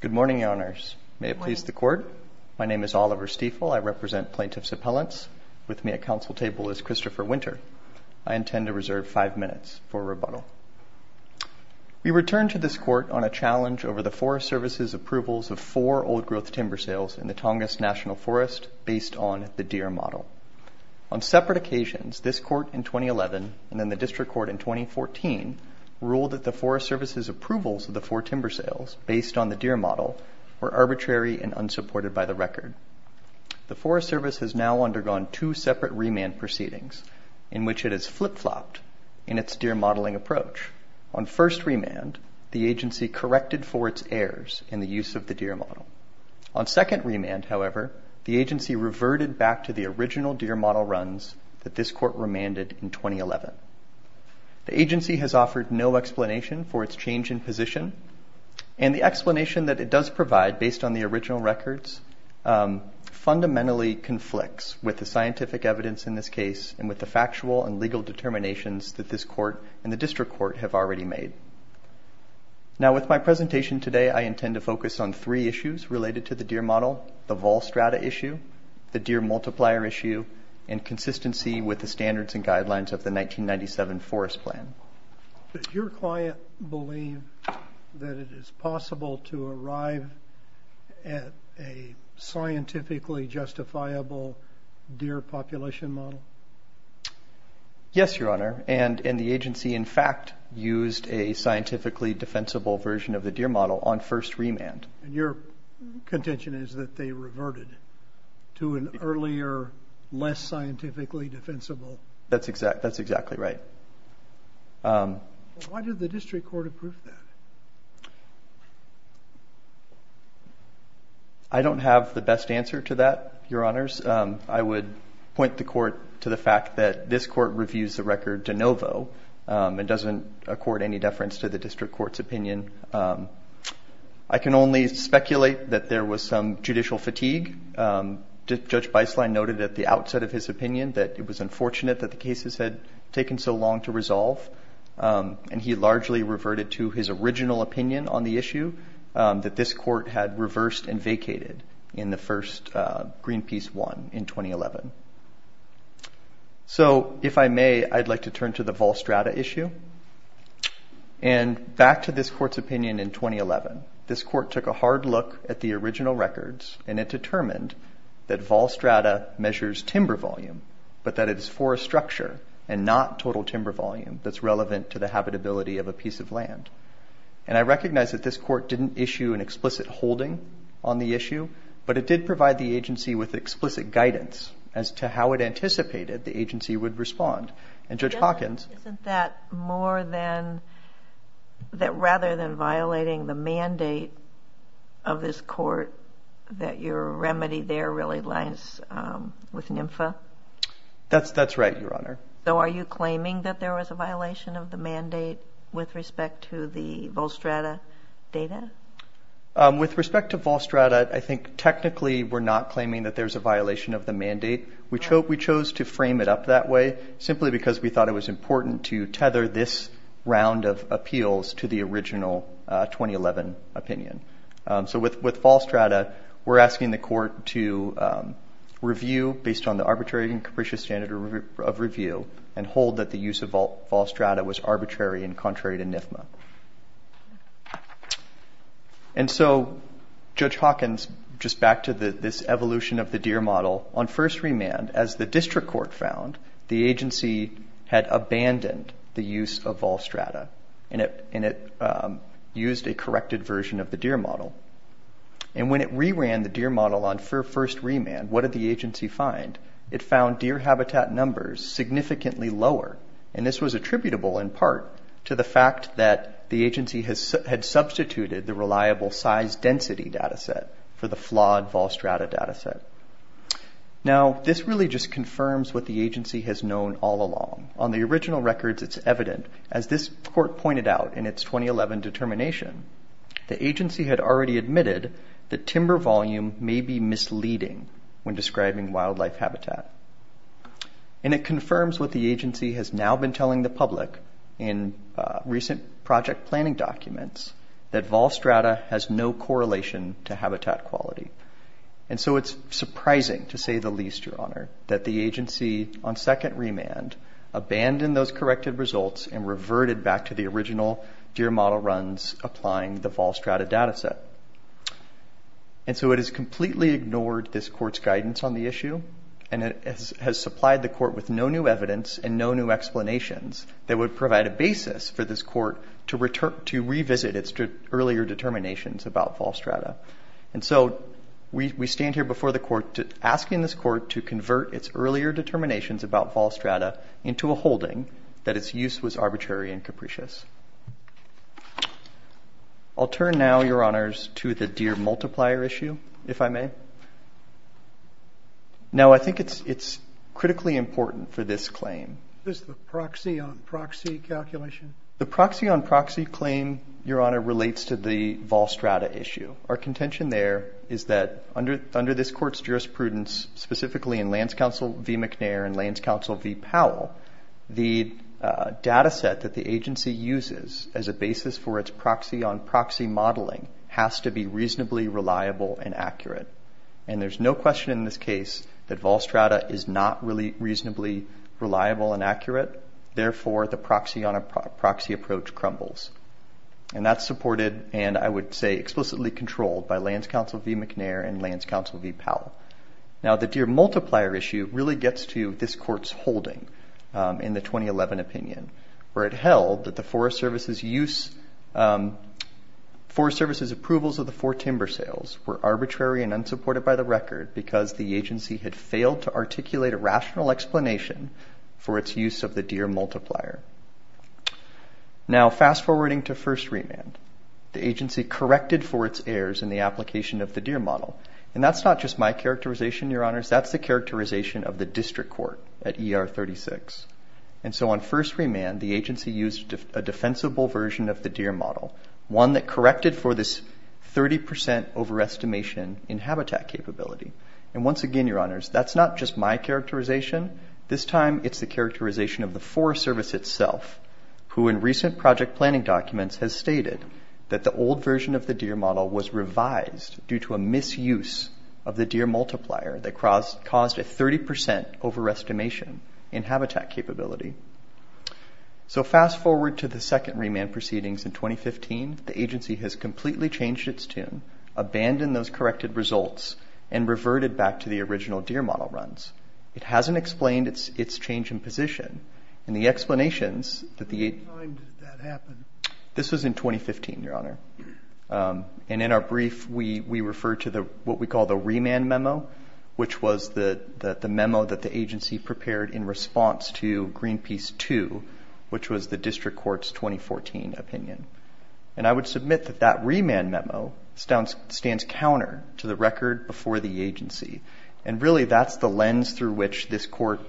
Good morning, Your Honours. May it please the Court. My name is Oliver Stiefel. I represent Plaintiffs' Appellants. With me at Council table is Christopher Winter. I intend to reserve five minutes for rebuttal. We return to this Court on a challenge over the Forest Service's approvals of four old-growth timber sales in the Tongass National Forest based on the Deere model. On separate occasions, this Court in 2011 and then the District Court in 2014 ruled that the Forest Service's approvals of the four timber sales based on the Deere model were arbitrary and unsupported by the record. The Forest Service has now undergone two separate remand proceedings in which it has flip-flopped in its Deere modeling approach. On first remand, the agency corrected for its errors in the use of the Deere model. On second remand, however, the agency reverted back to the original Deere model runs that this Court remanded in 2011. The agency has offered no explanation for its change in position, and the explanation that it does provide based on the original records fundamentally conflicts with the scientific evidence in this case and with the factual and legal determinations that this Court and the District Court have already made. Now, with my presentation today, I intend to focus on three issues related to the Deere model, the vol strata issue, the Deere multiplier issue, and consistency with the standards and guidelines of the 1997 Forest Plan. Does your client believe that it is possible to arrive at a scientifically justifiable Deere population model? Yes, Your Honor, and the agency, in fact, used a scientifically defensible version of the Deere model on first remand. And your contention is that they reverted to an earlier, less scientifically defensible? That's exactly right. Why did the District Court approve that? I don't have the best answer to that, Your Honors. I would point the Court to the fact that this Court reviews the record de novo and doesn't accord any deference to the District Court's opinion. I can only speculate that there was some judicial fatigue. Judge Beislein noted at the outset of his opinion that it was unfortunate that the cases had taken so long to resolve, and he largely reverted to his original opinion on the issue, that this Court had reversed and vacated in the first Greenpeace one in 2011. So, if I may, I'd like to turn to the vol strata issue. And back to this Court's opinion in 2011, this Court took a hard look at the original records and it determined that vol strata measures timber volume, but that it is forest structure and not total timber volume that's relevant to the habitability of a piece of land. And I recognize that this Court didn't issue an explicit holding on the issue, but it did provide the agency with explicit guidance as to how it anticipated the agency would respond. And Judge Hawkins... Isn't that more than... Rather than violating the mandate of this Court, that your remedy there really lies with NMFA? That's right, Your Honor. So are you claiming that there was a violation of the mandate with respect to the vol strata data? With respect to vol strata, I think technically we're not claiming that there's a violation of the mandate. We chose to frame it up that way simply because we thought it was important to tether this round of appeals to the original 2011 opinion. So with vol strata, we're asking the Court to review based on the arbitrary and capricious standard of review and hold that the use of vol strata was arbitrary and contrary to NMFA. And so Judge Hawkins, just back to this evolution of the Deere model, on first remand, as the District Court found, the agency had abandoned the use of vol strata and it used a corrected version of the Deere model. And when it reran the Deere model on first remand, what did the agency find? It found Deere habitat numbers significantly lower. And this was attributable in part to the fact that the agency had substituted the reliable size density data set for the flawed vol strata data set. Now, this really just confirms what the agency has known all along. On the original records, it's evident. As this Court pointed out in its 2011 determination, the agency had already admitted that timber volume may be misleading when describing wildlife habitat. And it confirms what the agency has now been telling the public in recent project planning documents, that vol strata has no correlation to habitat quality. And so it's surprising, to say the least, Your Honor, that the agency, on second remand, abandoned those corrected results and reverted back to the original Deere model runs applying the vol strata data set. And so it has completely ignored this Court's guidance on the issue and it has supplied the Court with no new evidence and no new explanations that would provide a basis for this Court to revisit its earlier determinations about vol strata. And so we stand here before the Court asking this Court to convert its earlier determinations about vol strata into a holding that its use was arbitrary and capricious. I'll turn now, Your Honors, to the Deere multiplier issue, if I may. Now, I think it's critically important for this claim. Is this the proxy on proxy calculation? The proxy on proxy claim, Your Honor, relates to the vol strata issue. Our contention there is that under this Court's jurisprudence, specifically in Lance Counsel v. McNair and Lance Counsel v. Powell, the data set that the agency uses as a basis for its proxy on proxy modeling has to be reasonably reliable and accurate. And there's no question in this case that vol strata is not really reasonably reliable and accurate. Therefore, the proxy on a proxy approach crumbles. And that's supported, and I would say explicitly controlled, by Lance Counsel v. McNair and Lance Counsel v. Powell. Now, the Deere multiplier issue really gets to this Court's holding in the 2011 opinion, where it held that the Forest Service's use – Forest Service's approvals of the four timber sales were arbitrary and unsupported by the record because the agency had failed to articulate a rational explanation for its use of the Deere multiplier. Now, fast-forwarding to first remand, the agency corrected for its errors in the application of the Deere model. And that's not just my characterization, Your Honors. That's the characterization of the District Court at ER 36. And so on first remand, the agency used a defensible version of the Deere model, one that corrected for this 30% overestimation in habitat capability. And once again, Your Honors, that's not just my characterization. This time, it's the characterization of the Forest Service itself, who in recent project planning documents has stated that the old version of the Deere model was revised due to a misuse of the Deere multiplier that caused a 30% overestimation in habitat capability. So fast-forward to the second remand proceedings in 2015. The agency has completely changed its tune, abandoned those corrected results, and reverted back to the original Deere model runs. It hasn't explained its change in position. And the explanations that the agency... When did that happen? This was in 2015, Your Honor. And in our brief, we refer to what we call the remand memo, which was the memo that the agency prepared in response to Greenpeace 2, which was the District Court's 2014 opinion. And I would submit that that remand memo stands counter to the record before the agency. And really, that's the lens through which this court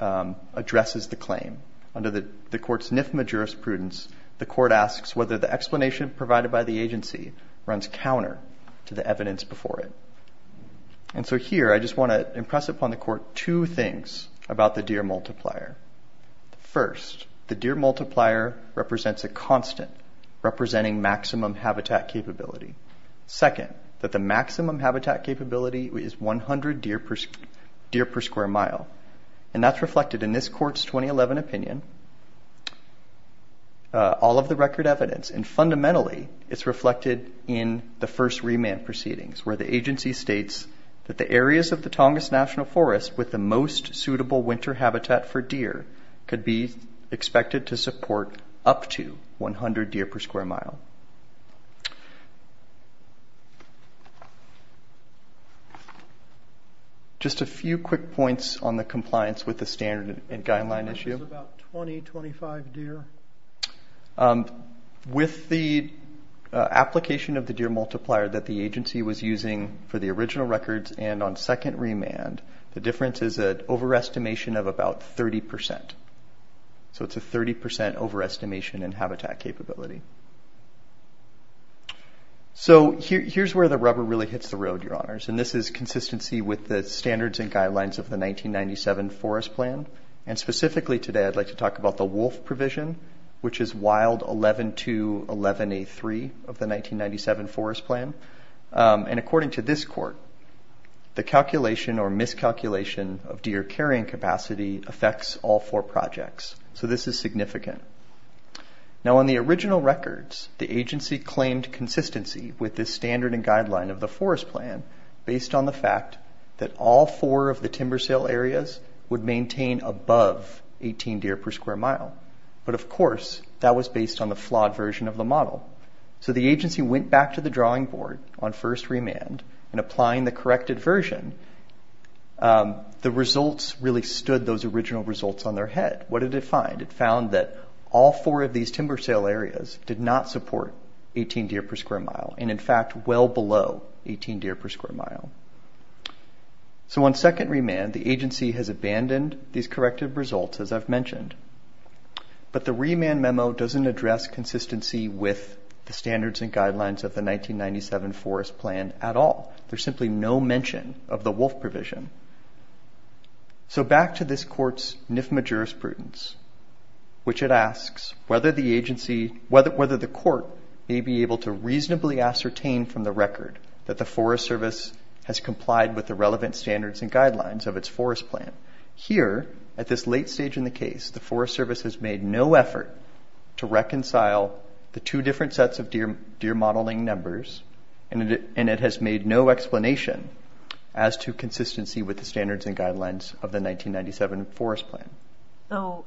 addresses the claim. Under the court's NIFMA jurisprudence, the court asks whether the explanation provided by the agency runs counter to the evidence before it. And so here, I just want to impress upon the court two things about the Deere multiplier. First, the Deere multiplier represents a constant, representing maximum habitat capability. Second, that the maximum habitat capability is 100 Deere per square mile. And that's reflected in this court's 2011 opinion, all of the record evidence. And fundamentally, it's reflected in the first remand proceedings, where the agency states that the areas of the Tongass National Forest with the most suitable winter habitat for Deere could be expected to support up to 100 Deere per square mile. Just a few quick points on the compliance with the standard and guideline issue. About 20, 25 Deere. With the application of the Deere multiplier that the agency was using for the original records and on second remand, the difference is an overestimation of about 30%. So it's a 30% overestimation in habitat capability. So here's where the rubber really hits the road, Your Honors. And this is consistency with the standards and guidelines of the 1997 forest plan. And specifically today, I'd like to talk about the wolf provision, which is wild 11-2-11-A-3 of the 1997 forest plan. And according to this court, the calculation or miscalculation of Deere carrying capacity affects all four projects. So this is significant. Now, on the original records, the agency claimed consistency with the standard and guideline of the forest plan based on the fact that all four of the timber sale areas would maintain above 18 Deere per square mile. But of course, that was based on the flawed version of the model. So the agency went back to the drawing board on first remand and applying the corrected version. The results really stood those original results on their head. What did it find? It found that all four of these timber sale areas did not support 18 Deere per square mile and, in fact, well below 18 Deere per square mile. So on second remand, the agency has abandoned these corrected results, as I've mentioned. But the remand memo doesn't address consistency with the standards and guidelines of the 1997 forest plan at all. There's simply no mention of the wolf provision. So back to this court's nifma jurisprudence, which it asks whether the agency, whether the court may be able to reasonably ascertain from the record that the Forest Service has complied with the relevant standards and guidelines of its forest plan. Here, at this late stage in the case, the Forest Service has made no effort to reconcile the two different sets of Deere modeling numbers, and it has made no explanation as to consistency with the standards and guidelines of the 1997 forest plan. So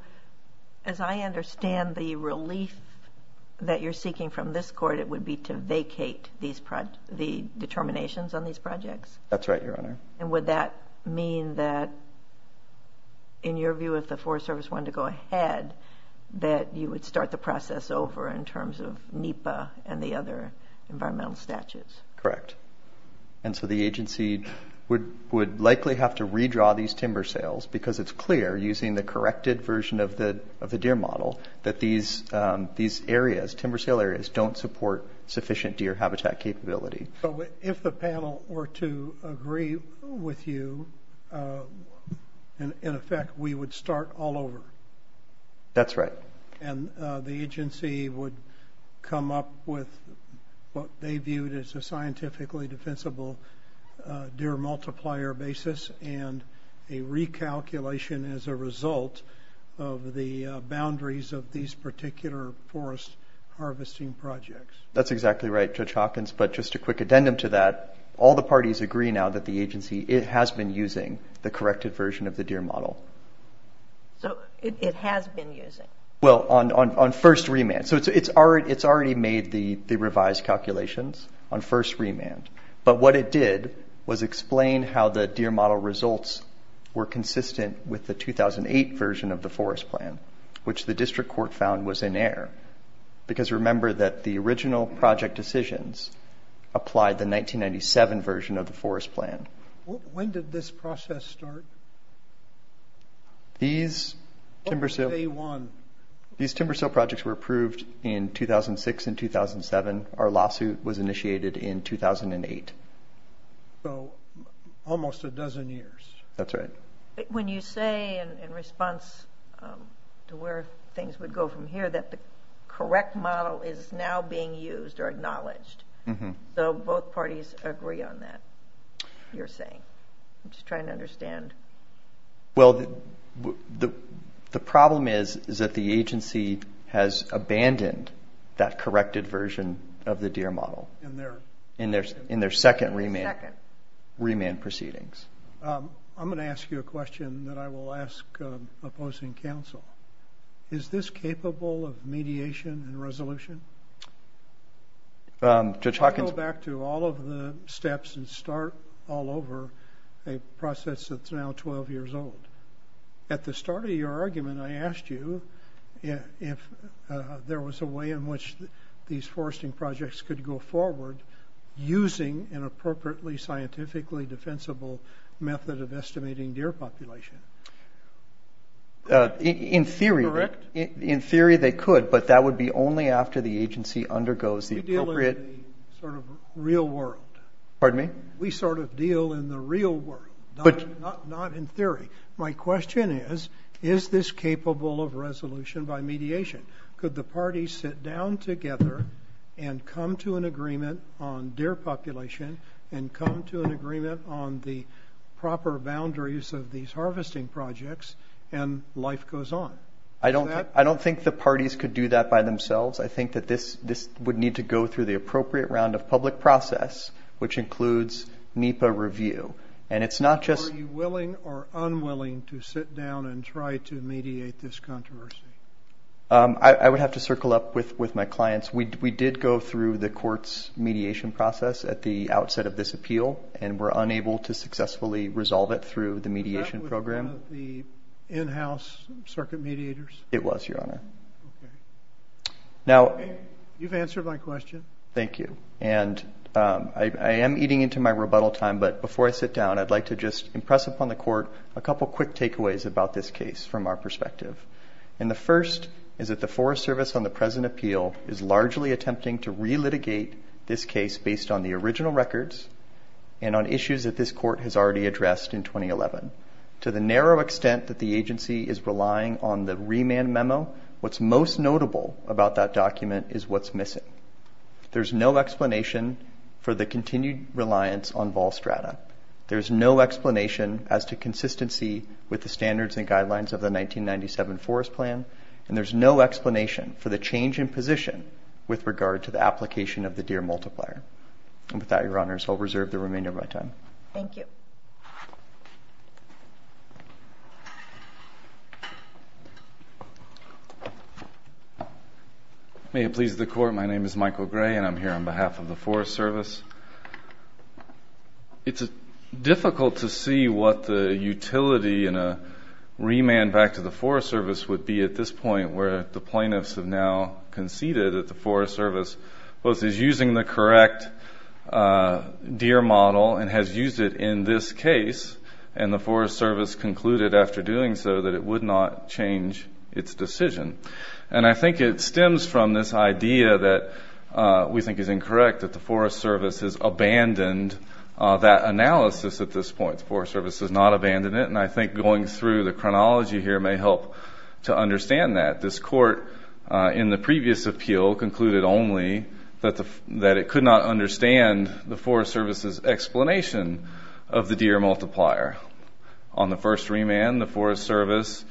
as I understand the relief that you're seeking from this court, it would be to vacate the determinations on these projects? That's right, Your Honor. And would that mean that, in your view, if the Forest Service wanted to go ahead, that you would start the process over in terms of NEPA and the other environmental statutes? Correct. And so the agency would likely have to redraw these timber sales because it's clear, using the corrected version of the Deere model, that these areas, timber sale areas, don't support sufficient Deere habitat capability. So if the panel were to agree with you, in effect, we would start all over? That's right. And the agency would come up with what they viewed as a scientifically defensible Deere multiplier basis and a recalculation as a result of the boundaries of these particular forest harvesting projects? That's exactly right, Judge Hawkins. But just a quick addendum to that, all the parties agree now that the agency, it has been using the corrected version of the Deere model. So it has been using? Well, on first remand. So it's already made the revised calculations on first remand. But what it did was explain how the Deere model results were consistent with the 2008 version of the forest plan, which the district court found was in error. Because remember that the original project decisions applied the 1997 version of the forest plan. When did this process start? These timber sale projects were approved in 2006 and 2007. Our lawsuit was initiated in 2008. So almost a dozen years. That's right. When you say, in response to where things would go from here, that the correct model is now being used or acknowledged. So both parties agree on that, you're saying. I'm just trying to understand. Well, the problem is that the agency has abandoned that corrected version of the Deere model in their second remand proceedings. I'm going to ask you a question that I will ask opposing counsel. Is this capable of mediation and resolution? Go back to all of the steps and start all over a process that's now 12 years old. At the start of your argument, I asked you if there was a way in which these foresting projects could go forward using an appropriately, scientifically defensible method of estimating Deere population. In theory, they could. But that would be only after the agency undergoes the appropriate. We deal in the sort of real world. Pardon me? We sort of deal in the real world, not in theory. My question is, is this capable of resolution by mediation? Could the parties sit down together and come to an agreement on Deere population and come to an agreement on the proper boundaries of these harvesting projects and life goes on? I don't think the parties could do that by themselves. I think that this would need to go through the appropriate round of public process, which includes NEPA review. Are you willing or unwilling to sit down and try to mediate this controversy? I would have to circle up with my clients. We did go through the court's mediation process at the outset of this appeal, and were unable to successfully resolve it through the mediation program. Was that with the in-house circuit mediators? It was, Your Honor. Okay. You've answered my question. Thank you. And I am eating into my rebuttal time, but before I sit down, I'd like to just impress upon the court a couple quick takeaways about this case from our perspective. And the first is that the Forest Service on the present appeal is largely attempting to relitigate this case based on the original records and on issues that this court has already addressed in 2011. To the narrow extent that the agency is relying on the remand memo, what's most notable about that document is what's missing. There's no explanation for the continued reliance on vol strata. There's no explanation as to consistency with the standards and guidelines of the 1997 Forest Plan, and there's no explanation for the change in position with regard to the application of the Deere multiplier. And with that, Your Honors, I'll reserve the remainder of my time. Thank you. May it please the Court, my name is Michael Gray, and I'm here on behalf of the Forest Service. It's difficult to see what the utility in a remand back to the Forest Service would be at this point where the plaintiffs have now conceded that the Forest Service is using the correct Deere model and has used it in this case, and the Forest Service concluded after doing so that it would not change its decision. And I think it stems from this idea that we think is incorrect, that the Forest Service has abandoned that analysis at this point. The Forest Service has not abandoned it, and I think going through the chronology here may help to understand that. This Court in the previous appeal concluded only that it could not understand the Forest Service's explanation of the Deere multiplier. On the first remand, the Forest Service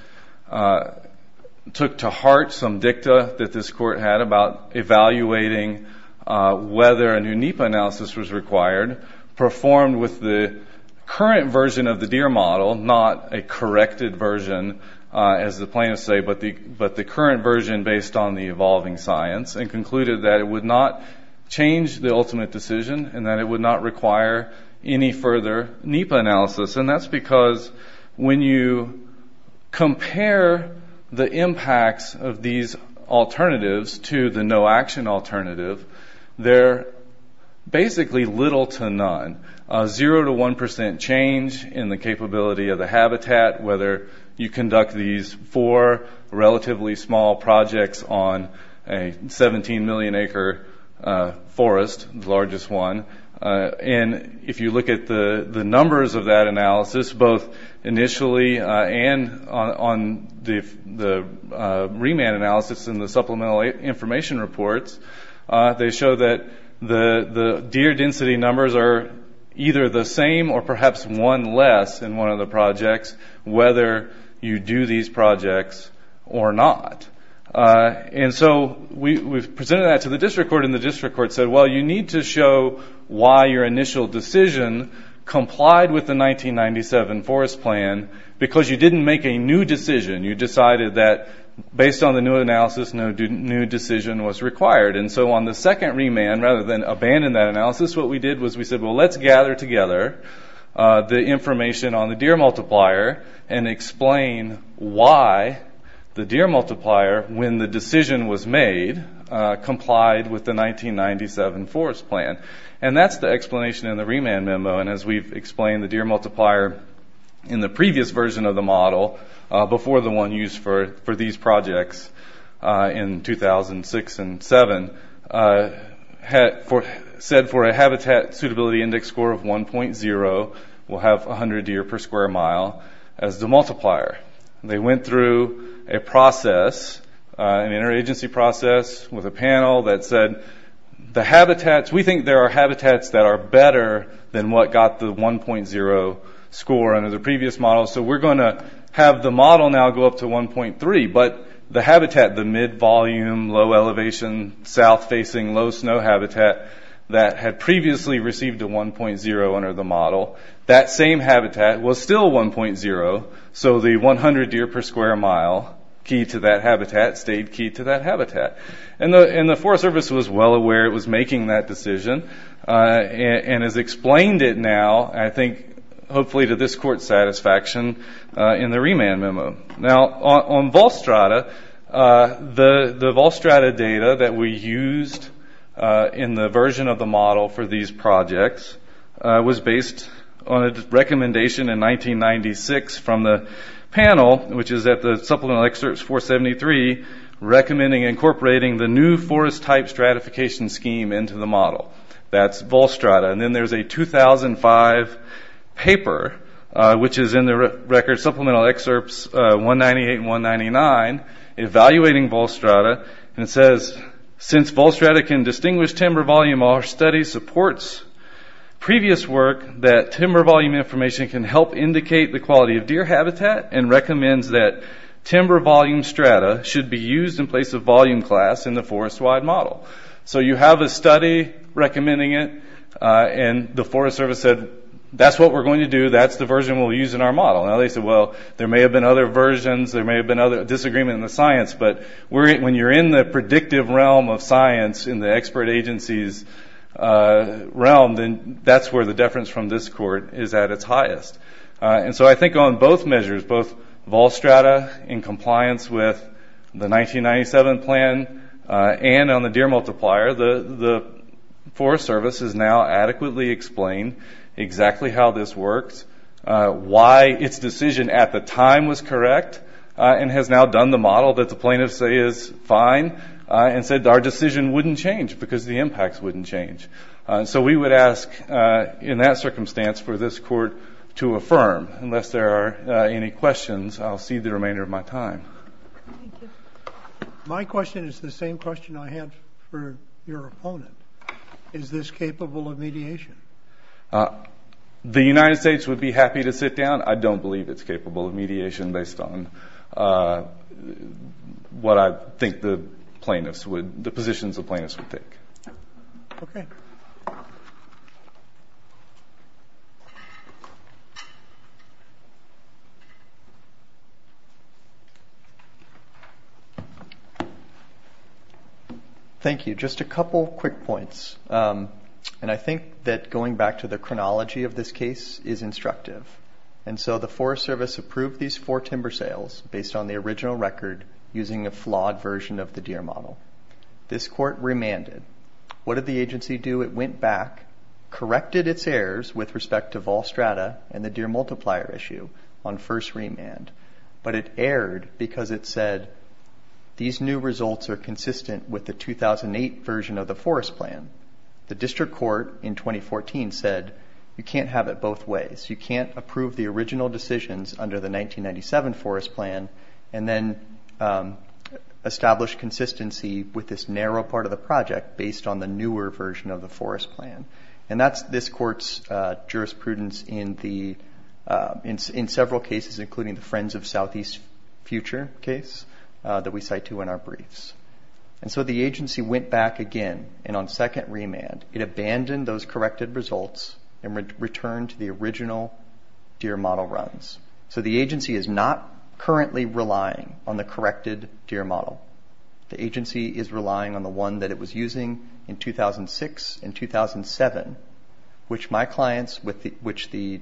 took to heart some dicta that this Court had about evaluating whether a new NEPA analysis was required, performed with the current version of the Deere model, not a corrected version, as the plaintiffs say, but the current version based on the evolving science, and concluded that it would not change the ultimate decision and that it would not require any further NEPA analysis. And that's because when you compare the impacts of these alternatives to the none, a zero to one percent change in the capability of the habitat, whether you conduct these four relatively small projects on a 17 million acre forest, the largest one, and if you look at the numbers of that analysis, both initially and on the remand analysis and the supplemental information reports, they show that the Deere density numbers are either the same or perhaps one less in one of the projects, whether you do these projects or not. And so we presented that to the district court, and the district court said, well, you need to show why your initial decision complied with the 1997 forest plan because you didn't make a new decision. You decided that based on the new analysis, no new decision was required. And so on the second remand, rather than abandon that analysis, what we did was we said, well, let's gather together the information on the Deere multiplier and explain why the Deere multiplier, when the decision was made, complied with the 1997 forest plan. And that's the explanation in the remand memo, and as we've explained, the Deere multiplier in the previous version of the model, before the one used for these projects in 2006 and 2007, said for a habitat suitability index score of 1.0, we'll have 100 Deere per square mile as the multiplier. They went through a process, an interagency process with a panel that said the habitats, we think there are habitats that are better than what got the 1.0 score under the previous model, so we're going to have the model now go up to 1.3, but the habitat, the mid-volume, low-elevation, south-facing, low-snow habitat that had previously received a 1.0 under the model, that same habitat was still 1.0, so the 100 Deere per square mile key to that habitat stayed key to that habitat. And the Forest Service was well aware it was making that decision, and has explained it now, I think, hopefully to this Court's satisfaction, in the remand memo. Now, on Volstrata, the Volstrata data that we used in the version of the model for these projects was based on a recommendation in 1996 from the panel, which is at the supplemental excerpts 473, recommending incorporating the new forest-type stratification scheme into the model. That's Volstrata. And then there's a 2005 paper, which is in the record supplemental excerpts 198 and 199, evaluating Volstrata, and it says, Since Volstrata can distinguish timber volume, our study supports previous work that timber volume information can help indicate the quality of Deere habitat and recommends that timber volume strata should be used in place of volume class in the forest-wide model. So you have a study recommending it, and the Forest Service said, That's what we're going to do. That's the version we'll use in our model. Now, they said, Well, there may have been other versions. There may have been disagreement in the science, but when you're in the predictive realm of science in the expert agency's realm, then that's where the deference from this Court is at its highest. And so I think on both measures, both Volstrata in compliance with the 1997 plan and on the Deere multiplier, the Forest Service has now adequately explained exactly how this works, why its decision at the time was correct, and has now done the model that the plaintiffs say is fine, and said our decision wouldn't change because the impacts wouldn't change. So we would ask, in that circumstance, for this Court to affirm. Unless there are any questions, I'll cede the remainder of my time. Thank you. My question is the same question I had for your opponent. Is this capable of mediation? The United States would be happy to sit down. I don't believe it's capable of mediation based on what I think the plaintiffs would, the positions the plaintiffs would take. Okay. Thank you. Just a couple quick points. And I think that going back to the chronology of this case is instructive. And so the Forest Service approved these four timber sales based on the original record using a flawed version of the Deere model. This Court remanded. What did the agency do? It went back, corrected its errors with respect to Volstrata and the Deere multiplier issue on first remand. But it erred because it said, these new results are consistent with the 2008 version of the Forest Plan. The District Court in 2014 said, you can't have it both ways. You can't approve the original decisions under the 1997 Forest Plan and then establish consistency with this narrow part of the project based on the newer version of the Forest Plan. And that's this Court's jurisprudence in several cases, including the Friends of Southeast Future case that we cite to in our briefs. And so the agency went back again, and on second remand, it abandoned those corrected results and returned to the original Deere model runs. So the agency is not currently relying on the corrected Deere model. The agency is relying on the one that it was using in 2006 and 2007, which my clients, which the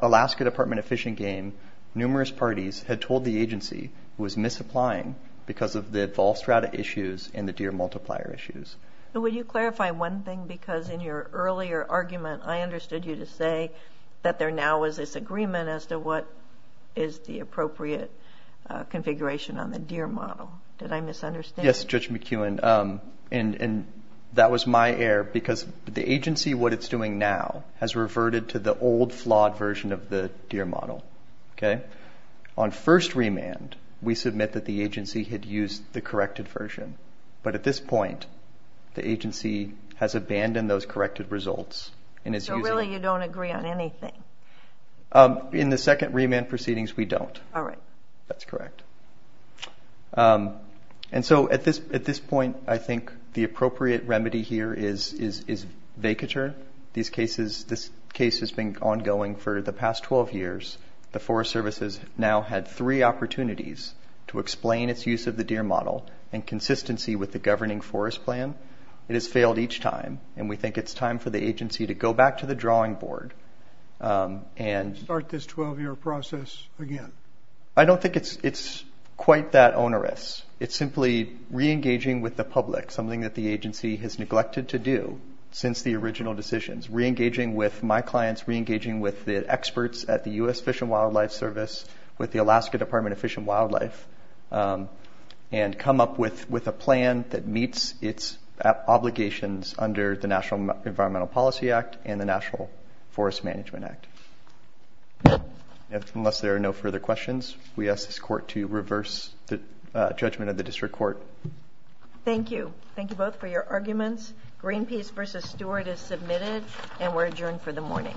Alaska Department of Fish and Game, numerous parties, had told the agency was misapplying because of the Volstrata issues and the Deere multiplier issues. Would you clarify one thing? Because in your earlier argument, I understood you to say that there now was this agreement as to what is the appropriate configuration on the Deere model. Did I misunderstand? Yes, Judge McKeown. And that was my error because the agency, what it's doing now, has reverted to the old flawed version of the Deere model. On first remand, we submit that the agency had used the corrected version. But at this point, the agency has abandoned those corrected results. So really you don't agree on anything? In the second remand proceedings, we don't. All right. That's correct. And so at this point, I think the appropriate remedy here is vacature. This case has been ongoing for the past 12 years. The Forest Service has now had three opportunities to explain its use of the Deere model in consistency with the governing forest plan. It has failed each time, and we think it's time for the agency to go back to the drawing board. Start this 12-year process again. I don't think it's quite that onerous. It's simply reengaging with the public, something that the agency has neglected to do since the original decisions, reengaging with my clients, reengaging with the experts at the U.S. Fish and Wildlife Service, with the Alaska Department of Fish and Wildlife, and come up with a plan that meets its obligations under the National Environmental Policy Act and the National Forest Management Act. Unless there are no further questions, we ask this court to reverse the judgment of the district court. Thank you. Thank you both for your arguments. Greenpeace v. Stewart is submitted, and we're adjourned for the morning.